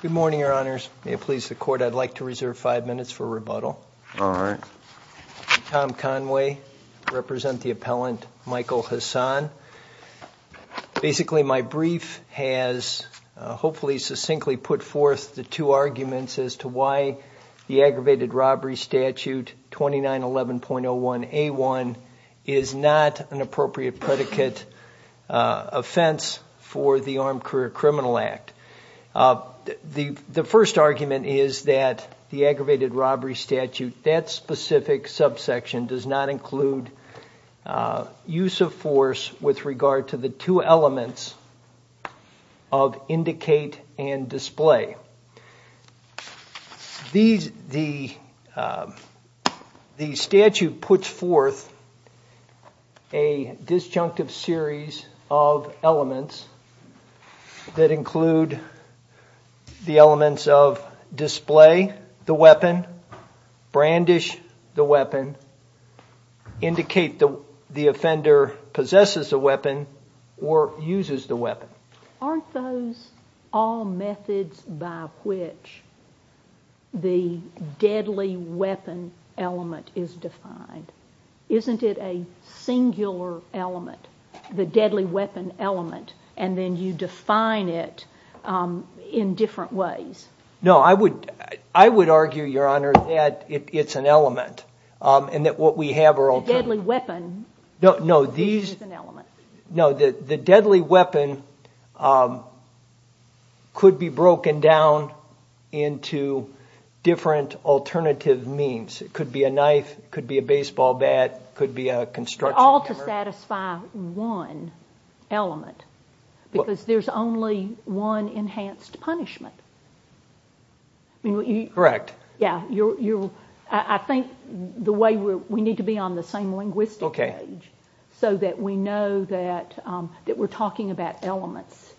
Good morning, your honors. May it please the court, I'd like to reserve five minutes for rebuttal. All right. Tom Conway, I represent the appellant Michael Hasan. Basically, my two arguments as to why the aggravated robbery statute 2911.01A1 is not an appropriate predicate offense for the Armed Career Criminal Act. The first argument is that the aggravated robbery statute, that specific subsection does not include use of force with regard to the two elements of indicate and display. The statute puts forth a disjunctive series of elements that include the elements of display the weapon, brandish the weapon, indicate the offender possesses a weapon or uses the weapon. Aren't those all methods by which the deadly weapon element is defined? Isn't it a singular element, the deadly weapon element, and then you define it in different ways? No, I would argue, your honor, that it's an weapon. No, the deadly weapon could be broken down into different alternative means. It could be a knife, it could be a baseball bat, it could be a construction hammer. All to satisfy one element because there's only one enhanced punishment. Correct. I think the way we need to be on the same linguistic page so that we know that we're talking about elements.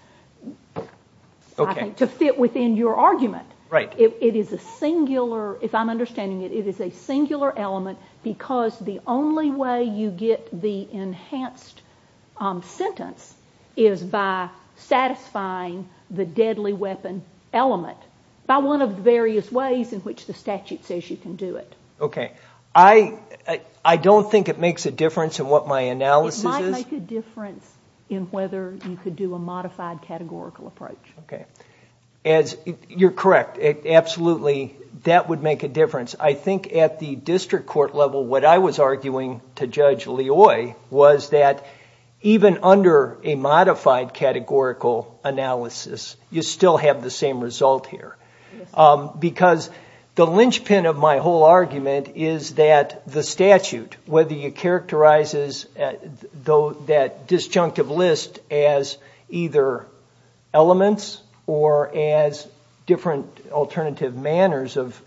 To fit within your argument. It is a singular, if I'm understanding it, it is a singular element because the only way you get the enhanced sentence is by satisfying the deadly weapon element. By one of the various ways in which the statute says you can do it. Okay. I don't think it makes a difference in what my analysis is. It might make a difference in whether you could do a modified categorical approach. Okay. You're correct. Absolutely, that would make a difference. I think at the district court level, what I was arguing to Judge Loy was that even a modified categorical analysis, you still have the same result here. Because the linchpin of my whole argument is that the statute, whether you characterize that disjunctive list as either elements or as different alternative manners of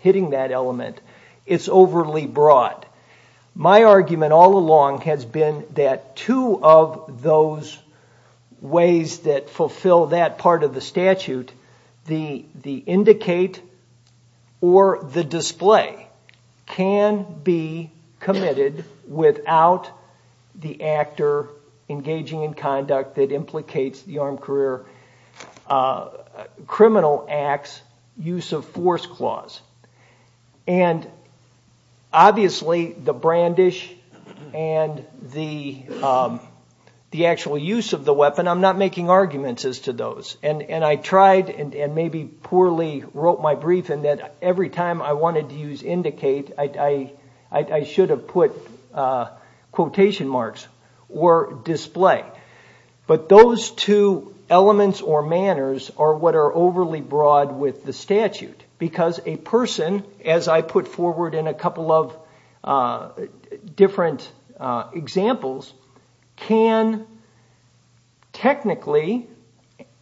hitting that element, it's overly broad. My argument all along has been that two of those ways that fulfill that part of the statute, the indicate or the display, can be committed without the actor engaging in conduct that the brandish and the actual use of the weapon. I'm not making arguments as to those. I tried and maybe poorly wrote my brief in that every time I wanted to use indicate, I should have put quotation marks or display. But those two elements or manners are what are overly broad with the statute. Because a person, as I put forward in a couple of different examples, can technically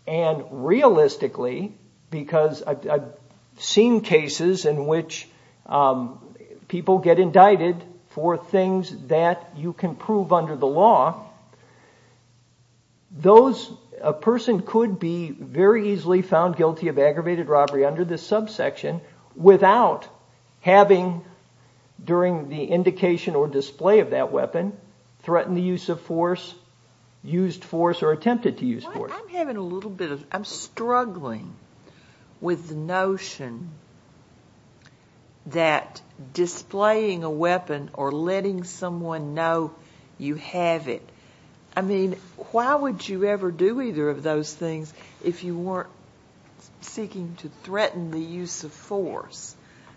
and realistically, because I've seen cases in which people get indicted for things that you can prove under the law, those, a person could be very easily found guilty of aggravated robbery under this subsection without having, during the indication or display of that weapon, threatened the use of force, used force or attempted to use force. I'm having a little bit of, I'm struggling with the notion that displaying a weapon or letting someone know you have it. I mean, why would you ever do either of those things if you weren't seeking to threaten the use of force?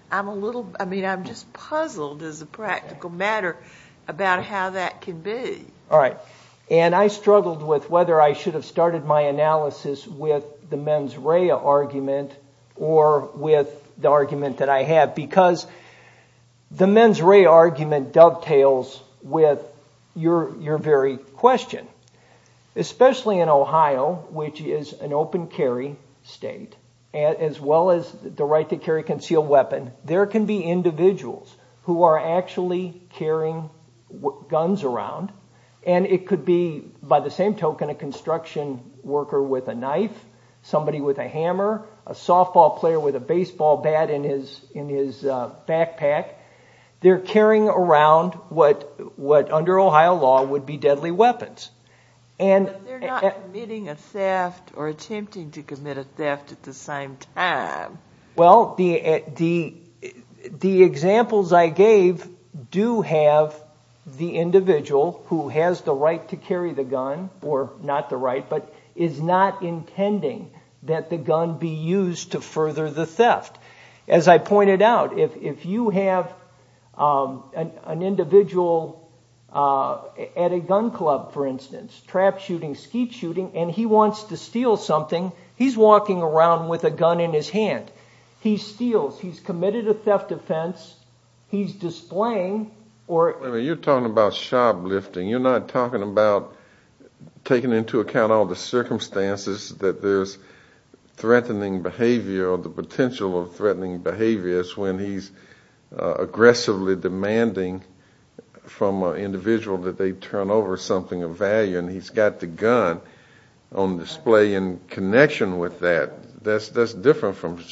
I'm a little, I mean, I'm just puzzled as a practical matter about how that can be. All right. And I struggled with whether I should have started my analysis with the mens rea argument or with the argument that I have. Because the mens rea argument dovetails with your very question. Especially in Ohio, which is an open carry state, as well as the right to carry concealed weapon, there can be individuals who are actually carrying guns around, and it could be by the same token a construction worker with a knife, somebody with a hammer, a softball player with a baseball bat in his backpack. They're carrying around what under Ohio law would be deadly weapons. But they're not committing a theft or attempting to commit a theft at the same time. Well, the examples I gave do have the individual who has the right to carry the gun, or not the right, but is not intending that the gun be used to further the theft. As I pointed out, if you have an individual at a gun club, for instance, trap shooting, skeet something, he's walking around with a gun in his hand. He steals. He's committed a theft offense. He's displaying or... You're talking about shoplifting. You're not talking about taking into account all the circumstances that there's threatening behavior or the potential of threatening behaviors when he's aggressively demanding from an individual that they turn over something of value, and he's got the gun on display in connection with that. That's different from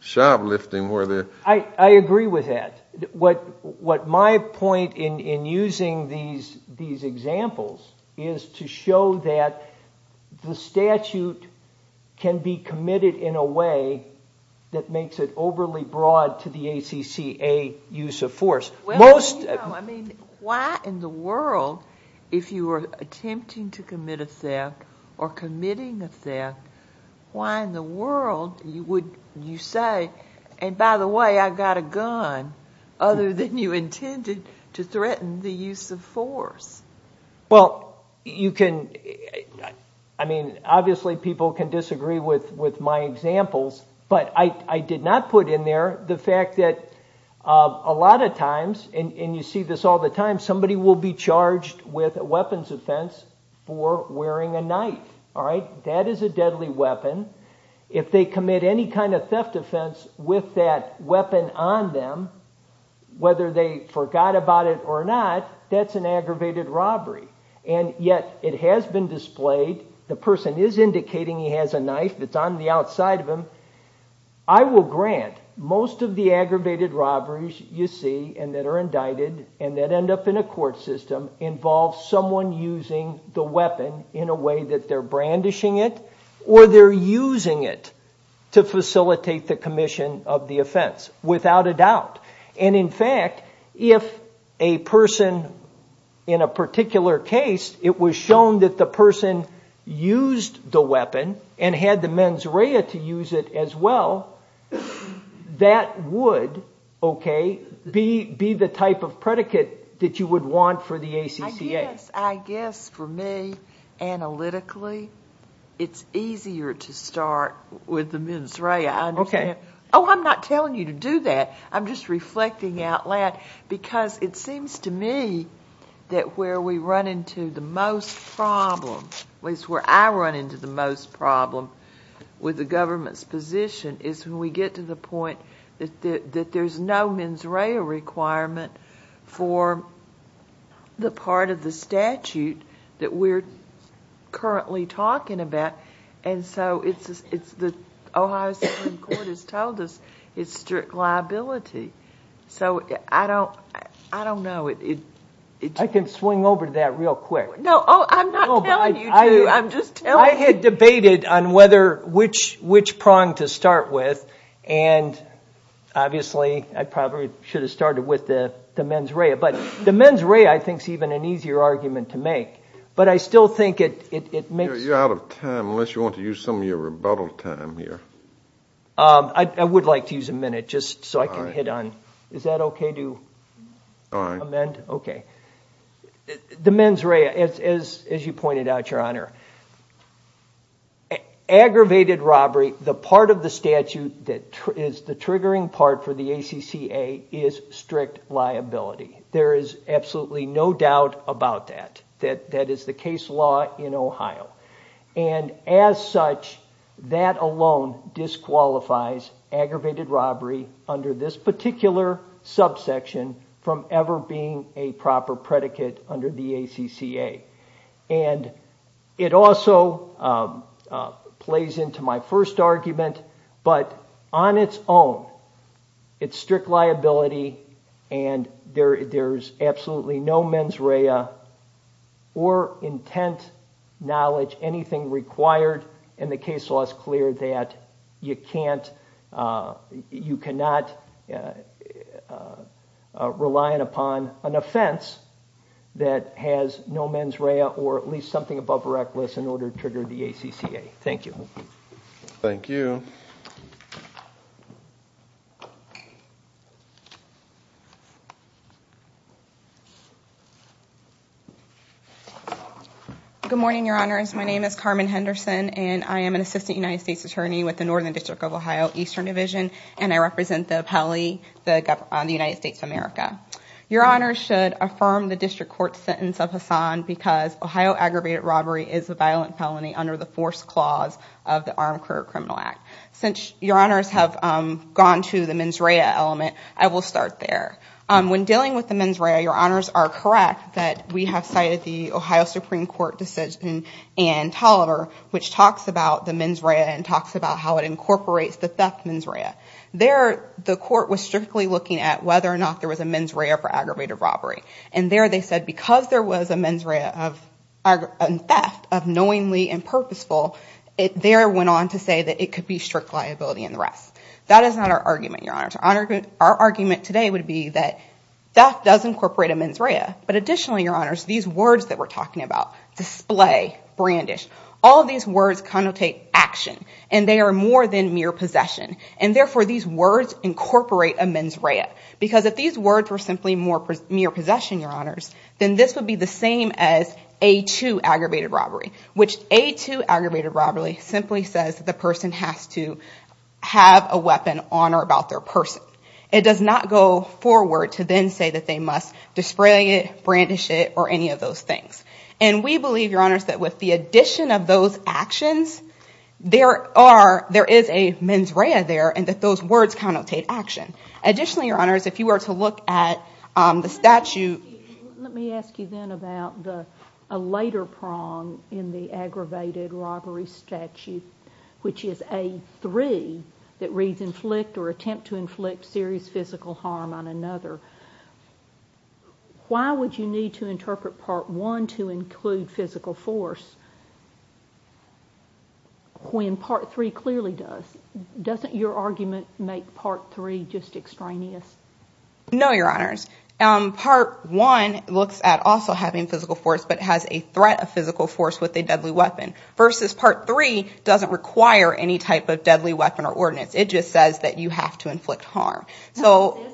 shoplifting where they're... I agree with that. What my point in using these examples is to show that the statute can be committed in a way that makes it overly broad to the ACCA use of force. Why in the world, if you were attempting to commit a theft or committing a theft, why in the world would you say, and by the way, I've got a gun, other than you intended to threaten the use of force? Well, you can... I mean, obviously people can disagree with my examples, but I did not put in there the fact that a lot of times, and you see this all the time, somebody will be charged with a weapons offense for wearing a knife. All right? That is a deadly weapon. If they commit any kind of theft offense with that weapon on them, whether they forgot about it or not, that's an aggravated robbery, and yet it has been displayed. The person is I will grant most of the aggravated robberies you see and that are indicted and that end up in a court system involves someone using the weapon in a way that they're brandishing it, or they're using it to facilitate the commission of the offense, without a doubt. And in fact, if a person in a particular case, it was shown that the person used the weapon and had the mens rea to use it as well, that would, okay, be the type of predicate that you would want for the ACCA. I guess for me, analytically, it's easier to start with the mens rea. Okay. Oh, I'm not telling you to do that. I'm just reflecting out loud because it seems to me that where we run into the most problem with the government's position is when we get to the point that there's no mens rea requirement for the part of the statute that we're currently talking about, and so it's the Ohio Supreme Court has told us it's strict liability. So I don't know. I can debate it on which prong to start with, and obviously I probably should have started with the mens rea, but the mens rea I think is even an easier argument to make, but I still think it makes... You're out of time, unless you want to use some of your rebuttal time here. I would like to use a minute just so I can hit on, is that okay to amend? Okay. The mens rea, as you pointed out, aggravated robbery, the part of the statute that is the triggering part for the ACCA is strict liability. There is absolutely no doubt about that. That is the case law in Ohio, and as such, that alone disqualifies aggravated robbery under this particular subsection from ever being a proper predicate under the ACCA. And it also plays into my first argument, but on its own, it's strict liability and there's absolutely no mens rea or intent, knowledge, anything required and the case law is clear that you cannot rely upon an offense that has no mens rea or at least something above reckless in order to trigger the ACCA. Thank you. Thank you. Good morning, your honors. My name is Carmen Henderson, and I am an assistant United States attorney with the Northern District of Ohio Eastern Division, and I represent the appellee, the United States of America. Your honors should affirm the district court sentence of Hassan because Ohio aggravated robbery is a violent felony under the forced clause of the Armed Career Criminal Act. Since your honors have gone to the mens rea element, I will start there. When dealing with the mens rea, your honors are correct that we have cited the Ohio Supreme Court decision in Tolliver, which talks about the mens rea and talks about how it incorporates the theft mens rea. There, the court was strictly looking at whether or not there was a mens rea for aggravated robbery, and there they said because there was a mens rea of theft of knowingly and purposeful, it there went on to say that it could be strict liability and the rest. That is not our argument, your honors. Our argument today would be that theft does incorporate a mens rea, but additionally, your honors, these words that we're talking about, display, brandish, all of these words connotate action, and they are more than mere possession, and therefore, these words incorporate a mens rea because if these words were simply more mere possession, your honors, then this would be the same as A2 aggravated robbery, which A2 aggravated person. It does not go forward to then say that they must display it, brandish it, or any of those things, and we believe, your honors, that with the addition of those actions, there is a mens rea there and that those words connotate action. Additionally, your honors, if you were to look at the statute... Let me ask you then about a later prong in the aggravated robbery statute, which is A3 that reads inflict or attempt to inflict serious physical harm on another. Why would you need to interpret part one to include physical force when part three clearly does? Doesn't your argument make part three just extraneous? No, your honors. Part one looks at also having physical force, but has a threat of physical force with a deadly weapon, versus part three doesn't require any type of deadly weapon or ordinance. It just says that you have to inflict harm. Or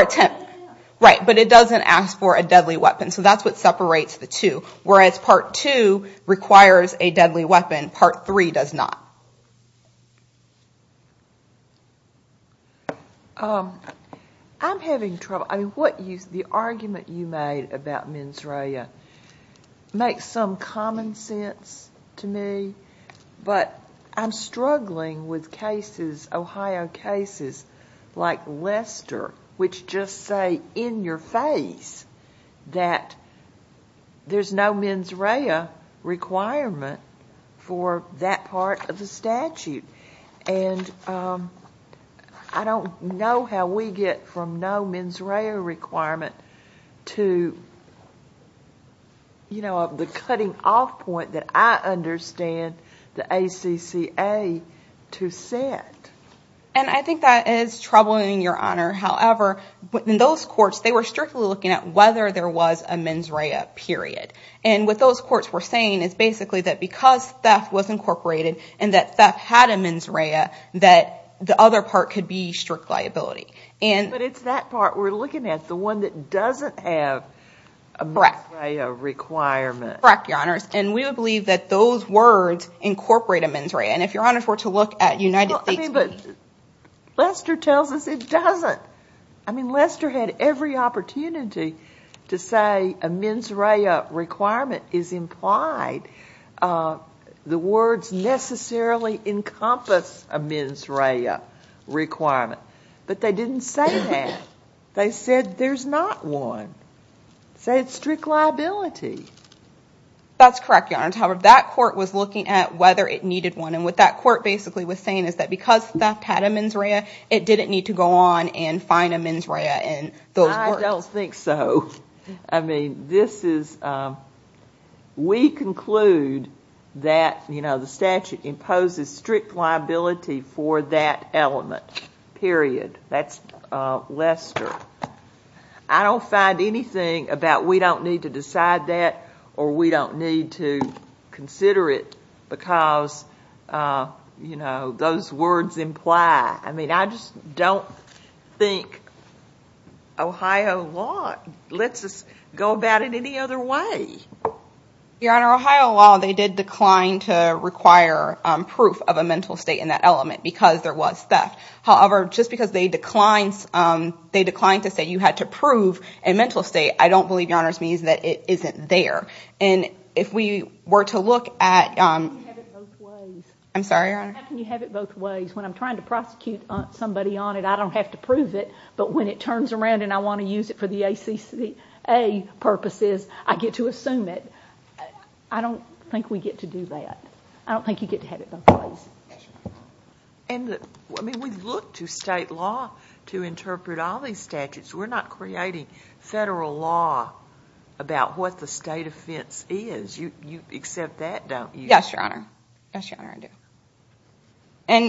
attempt. Right, but it doesn't ask for a deadly weapon, so that's what separates the two. Whereas part two requires a deadly weapon, part three does not. I'm having trouble. The argument you made about mens rea makes some common sense to me, but I'm struggling with Ohio cases like Lester, which just say in your face that there's no mens rea requirement for that part of the statute. I don't know how we get from no mens rea requirement to the cutting off point that I understand the ACCA to set. I think that is troubling, your honor. However, in those courts they were strictly looking at whether there was a mens rea period. What those were looking at was that because theft was incorporated and that theft had a mens rea, that the other part could be strict liability. It's that part we're looking at, the one that doesn't have a mens rea requirement. Correct, your honors. We would believe that those words incorporate a mens rea. If your honors were to look at United States... Lester tells us it the words necessarily encompass a mens rea requirement, but they didn't say that. They said there's not one. They said strict liability. That's correct, your honors. However, that court was looking at whether it needed one, and what that court basically was saying is that because theft had a mens rea, it didn't need to go on and find a mens rea in those courts. I don't think so. This is... We conclude that the statute imposes strict liability for that element, period. That's Lester. I don't find anything about we don't need to decide that or we don't need to consider it because those words imply. I just don't think Ohio law lets us go about it any other way. Your honor, Ohio law, they did decline to require proof of a mental state in that element because there was theft. However, just because they declined to say you had to prove a mental state, I don't believe, your honors, means that it isn't there. If we were to look at... I'm sorry, your honor? How can you have it both ways? When I'm trying to prosecute somebody on it, I don't have to prove it, but when it turns around and I want to use it for the ACCA purposes, I get to assume it. I don't think we get to do that. I don't think you get to have it both ways. We've looked to state law to interpret all these statutes. We're not creating federal law about what the state offense is. You accept that, don't you? Yes, your honor. Yes, your honor, I do.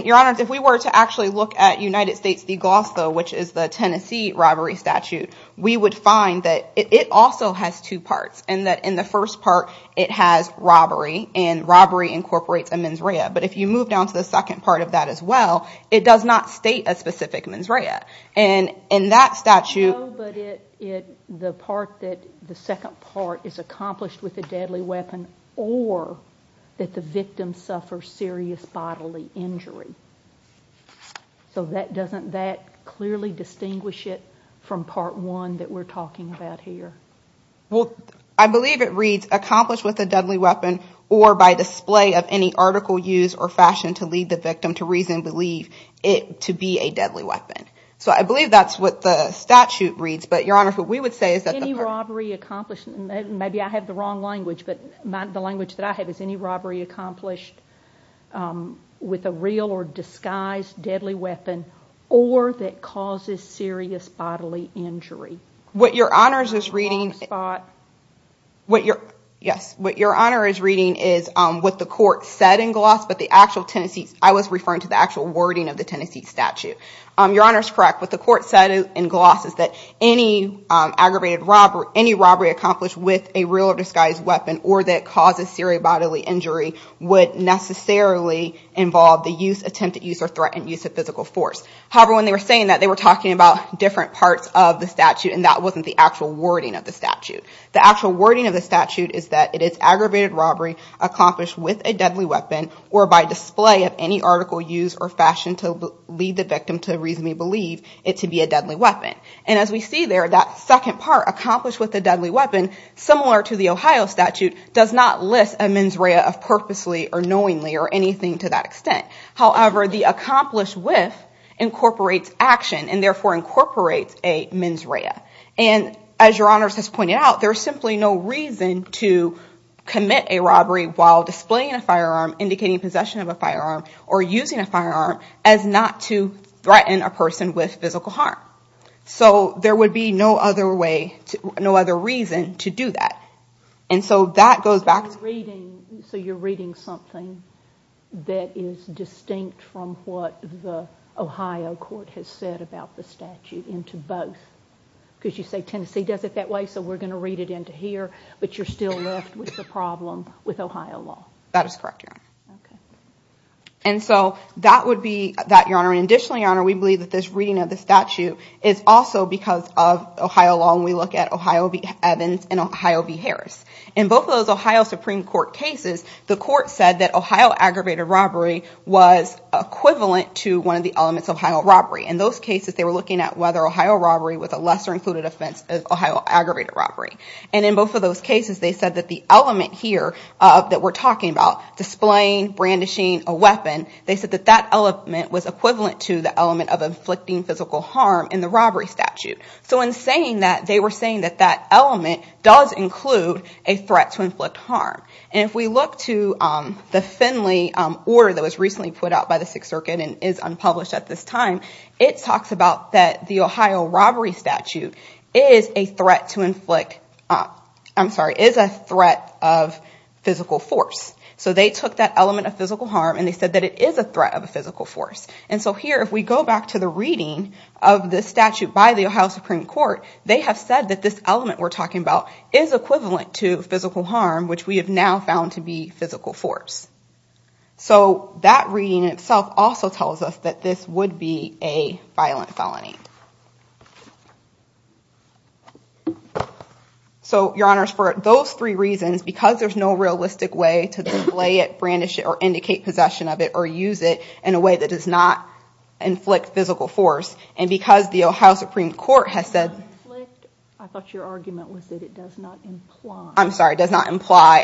Your honors, if we were to actually look at United States de Glosso, which is the Tennessee robbery statute, we would find that it also has two parts and that in the first part, it has robbery and robbery incorporates a mens rea, but if you move down to the second part of that as well, it does not state a specific mens rea. In that statute... No, but the part that the second part is accomplished with a deadly weapon or that the victim suffers serious bodily injury. So doesn't that clearly distinguish it from part one that we're talking about here? Well, I believe it reads accomplished with a deadly weapon or by display of any article used or fashion to lead the victim to reason believe it to be a deadly weapon. So I believe that's what the statute reads, but your honor, what we would say is that... Any robbery accomplished, maybe I have the wrong language, but the language that I have is any robbery accomplished with a real or disguised deadly weapon or that causes serious bodily injury. What your honors is reading... What your, yes, what your honor is reading is what the court said in gloss, but the actual Tennessee... I was referring to the actual wording of the Tennessee statute. Your honor is correct. What the court said in gloss is that any aggravated robbery, any robbery accomplished with a real or disguised weapon or that causes serious bodily injury would necessarily involve the use, attempt to use or threaten use of physical force. However, when they were saying that they were talking about different parts of the statute and that wasn't the actual wording of the statute. The actual wording of the statute is that it is deadly weapon or by display of any article used or fashion to lead the victim to reasonably believe it to be a deadly weapon. And as we see there, that second part accomplished with a deadly weapon, similar to the Ohio statute, does not list a mens rea of purposely or knowingly or anything to that extent. However, the accomplished with incorporates action and therefore incorporates a mens rea. And as your honors has pointed out, there's simply no reason to commit a robbery while displaying a firearm, indicating possession of a firearm or using a firearm as not to threaten a person with physical harm. So there would be no other way, no other reason to do that. And so that goes back to... So you're reading something that is distinct from what the Ohio court has said about the statute into both. Because you say Tennessee does it that way, we're going to read it into here, but you're still left with the problem with Ohio law. That is correct, your honor. And so that would be that, your honor. And additionally, your honor, we believe that this reading of the statute is also because of Ohio law. And we look at Ohio Evans and Ohio v. Harris. In both of those Ohio Supreme Court cases, the court said that Ohio aggravated robbery was equivalent to one of the elements of Ohio robbery. In those cases, they were looking at whether Ohio robbery was a lesser included offense as Ohio aggravated robbery. And in both of those cases, they said that the element here that we're talking about, displaying, brandishing a weapon, they said that that element was equivalent to the element of inflicting physical harm in the robbery statute. So in saying that, they were saying that that element does include a threat to inflict harm. And if we look to the Finley order that was recently put out by the Sixth Circuit and is unpublished at this time, it talks about that the Ohio robbery statute is a threat to inflict, I'm sorry, is a threat of physical force. So they took that element of physical harm and they said that it is a threat of a physical force. And so here, if we go back to the reading of the statute by the Ohio Supreme Court, they have said that this element we're talking about is equivalent to physical harm, which we have now found to be physical force. So that reading itself also tells us that this would be a violent felony. So your honors, for those three reasons, because there's no realistic way to display it, brandish it, or indicate possession of it, or use it in a way that does not inflict physical force, and because the Ohio Supreme Court has said... I thought your argument was that it does not imply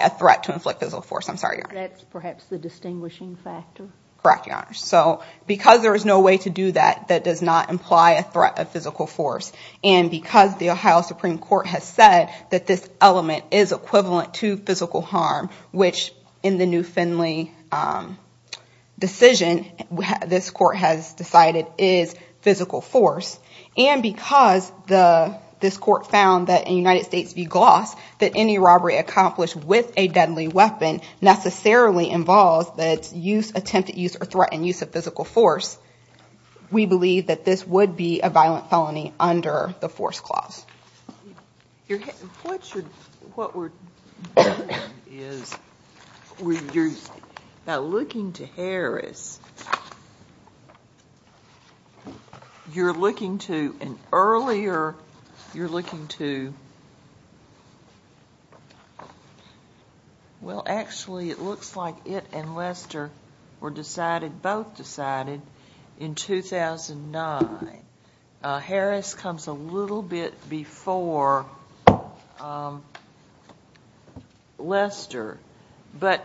a threat to inflict physical force. I'm sorry. That's perhaps the distinguishing factor. Correct, your honors. So because there is no way to do that, that does not imply a threat of physical force, and because the Ohio Supreme Court has said that this element is equivalent to physical harm, which in the new Finley decision, this court has decided is physical force, and because this court found that in United States v. Gloss, that any robbery accomplished with a deadly weapon necessarily involves the use, attempt to use, or threaten use of physical force, we believe that this would be a violent felony under the force clause. What we're doing is, you're now looking to Harris. You're looking to, and earlier, you're looking to... Well, actually, it looks like it and Lester were decided, both decided, in 2009. Harris comes a little bit before Lester, but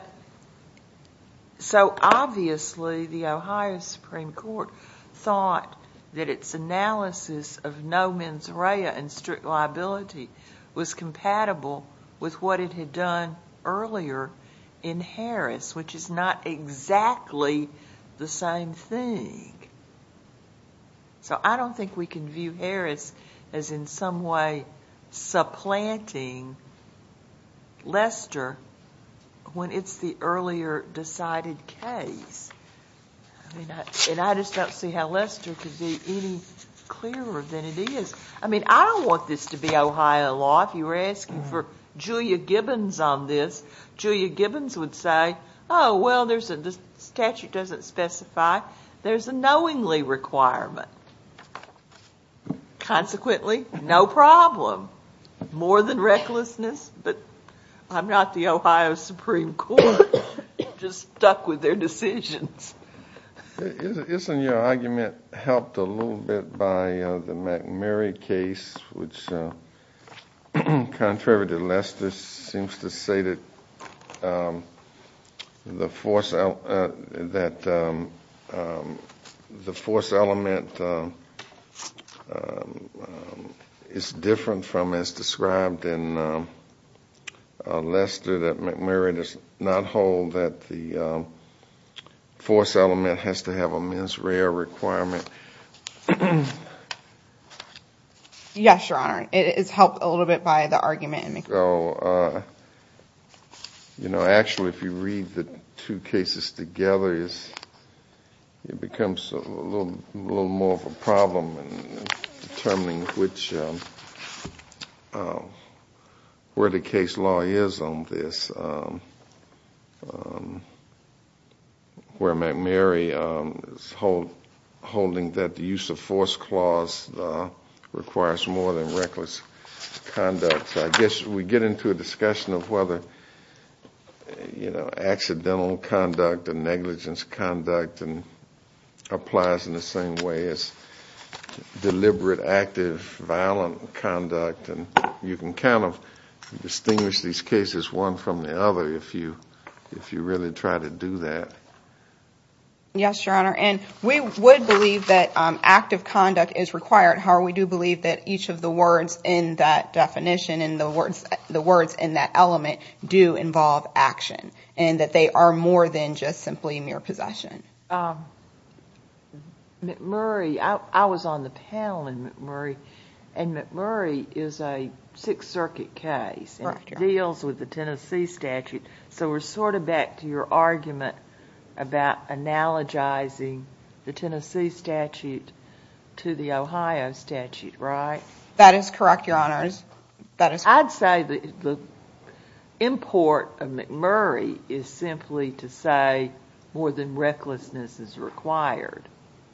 so obviously the Ohio Supreme Court thought that its analysis of no mens rea and strict liability was compatible with what it had done earlier in Harris, which is not exactly the same thing. So I don't think we can view Harris as in some way supplanting Lester when it's the earlier decided case, and I just don't see how Lester could be any clearer than it is. I mean, I don't want this to be Ohio law. If you were asking for Julia Gibbons on this, Julia Gibbons would say, oh, well, the statute doesn't specify. There's a knowingly requirement. Consequently, no problem. More than recklessness, but I'm not the Ohio Supreme Court. Just stuck with their decisions. Isn't your argument helped a little bit by the McMurray case, which, contrary to Lester, seems to say that the force element is different from as described in Lester, that McMurray does not hold that the force element has to have a mens rea requirement? Yes, Your Honor. It is helped a little bit by the argument. Actually, if you read the two cases together, it becomes a little more of a problem in determining which, where the case law is on this, where McMurray is holding that the use of force clause requires more than reckless conduct. I guess we get into a discussion of whether, you know, accidental conduct and negligence conduct applies in the same way as deliberate, active, violent conduct. You can kind of distinguish these cases, one from the other, if you really try to do that. Yes, Your Honor. We would believe that active conduct is required. However, we do believe that each of the words in that definition and the words in that element do involve action and that they are more than just simply mere possession. Um, McMurray, I was on the panel in McMurray, and McMurray is a Sixth Circuit case, and it deals with the Tennessee statute, so we're sort of back to your argument about analogizing the Tennessee statute to the Ohio statute, right? That is correct, Your Honor. I'd say the import of McMurray is simply to say more than recklessness is required.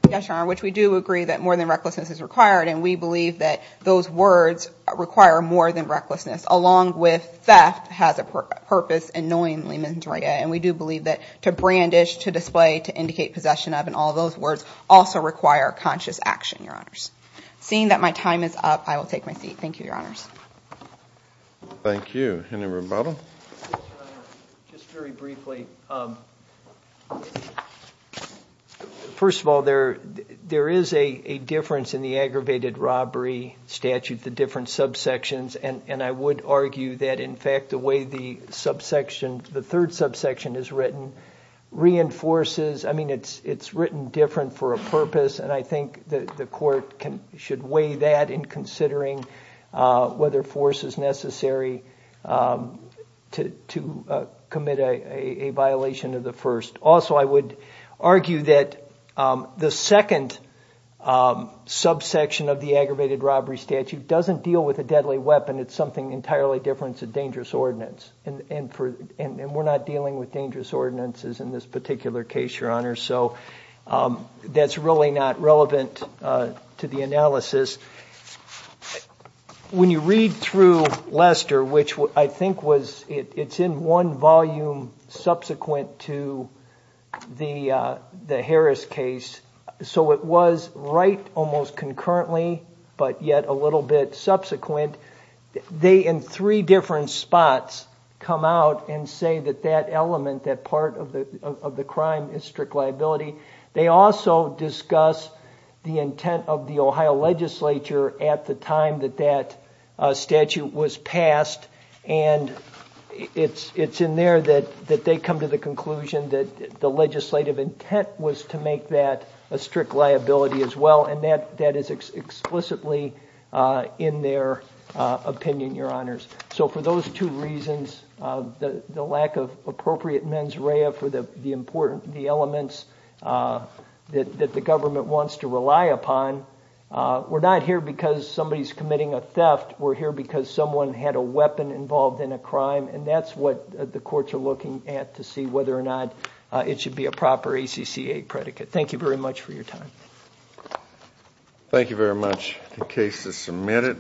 Yes, Your Honor, which we do agree that more than recklessness is required, and we believe that those words require more than recklessness, along with theft has a purpose in knowingly misdemeanor, and we do believe that to brandish, to display, to indicate possession of, and all those words also require conscious action, Your Honors. Seeing that my time is up, I will take my seat. Thank you, Your Honors. Thank you. Any rebuttal? Just very briefly. First of all, there is a difference in the aggravated robbery statute, the different subsections, and I would argue that, in fact, the way the subsection, the third subsection is written reinforces, I mean, it's written different for a purpose, and I think that the court should weigh that in considering whether force is necessary to commit a violation of the first. Also, I would argue that the second subsection of the aggravated robbery statute doesn't deal with a deadly weapon. It's something entirely different. It's a dangerous ordinance, and we're not dealing with dangerous ordinances in this particular case, Your Honor, so that's really not relevant to the analysis. When you read through Lester, which I think was, it's in one volume subsequent to the Harris case, so it was right almost concurrently, but yet a little bit subsequent. They, in three different spots, come out and say that that they also discuss the intent of the Ohio legislature at the time that that statute was passed, and it's in there that they come to the conclusion that the legislative intent was to make that a strict liability as well, and that is explicitly in their opinion, Your Honors. So for those two reasons, the lack of appropriate mens rea for the important elements that the government wants to rely upon, we're not here because somebody's committing a theft. We're here because someone had a weapon involved in a crime, and that's what the courts are looking at to see whether or not it should be a proper ACCA predicate. Thank you very much for your time. Thank you very much. The case is submitted.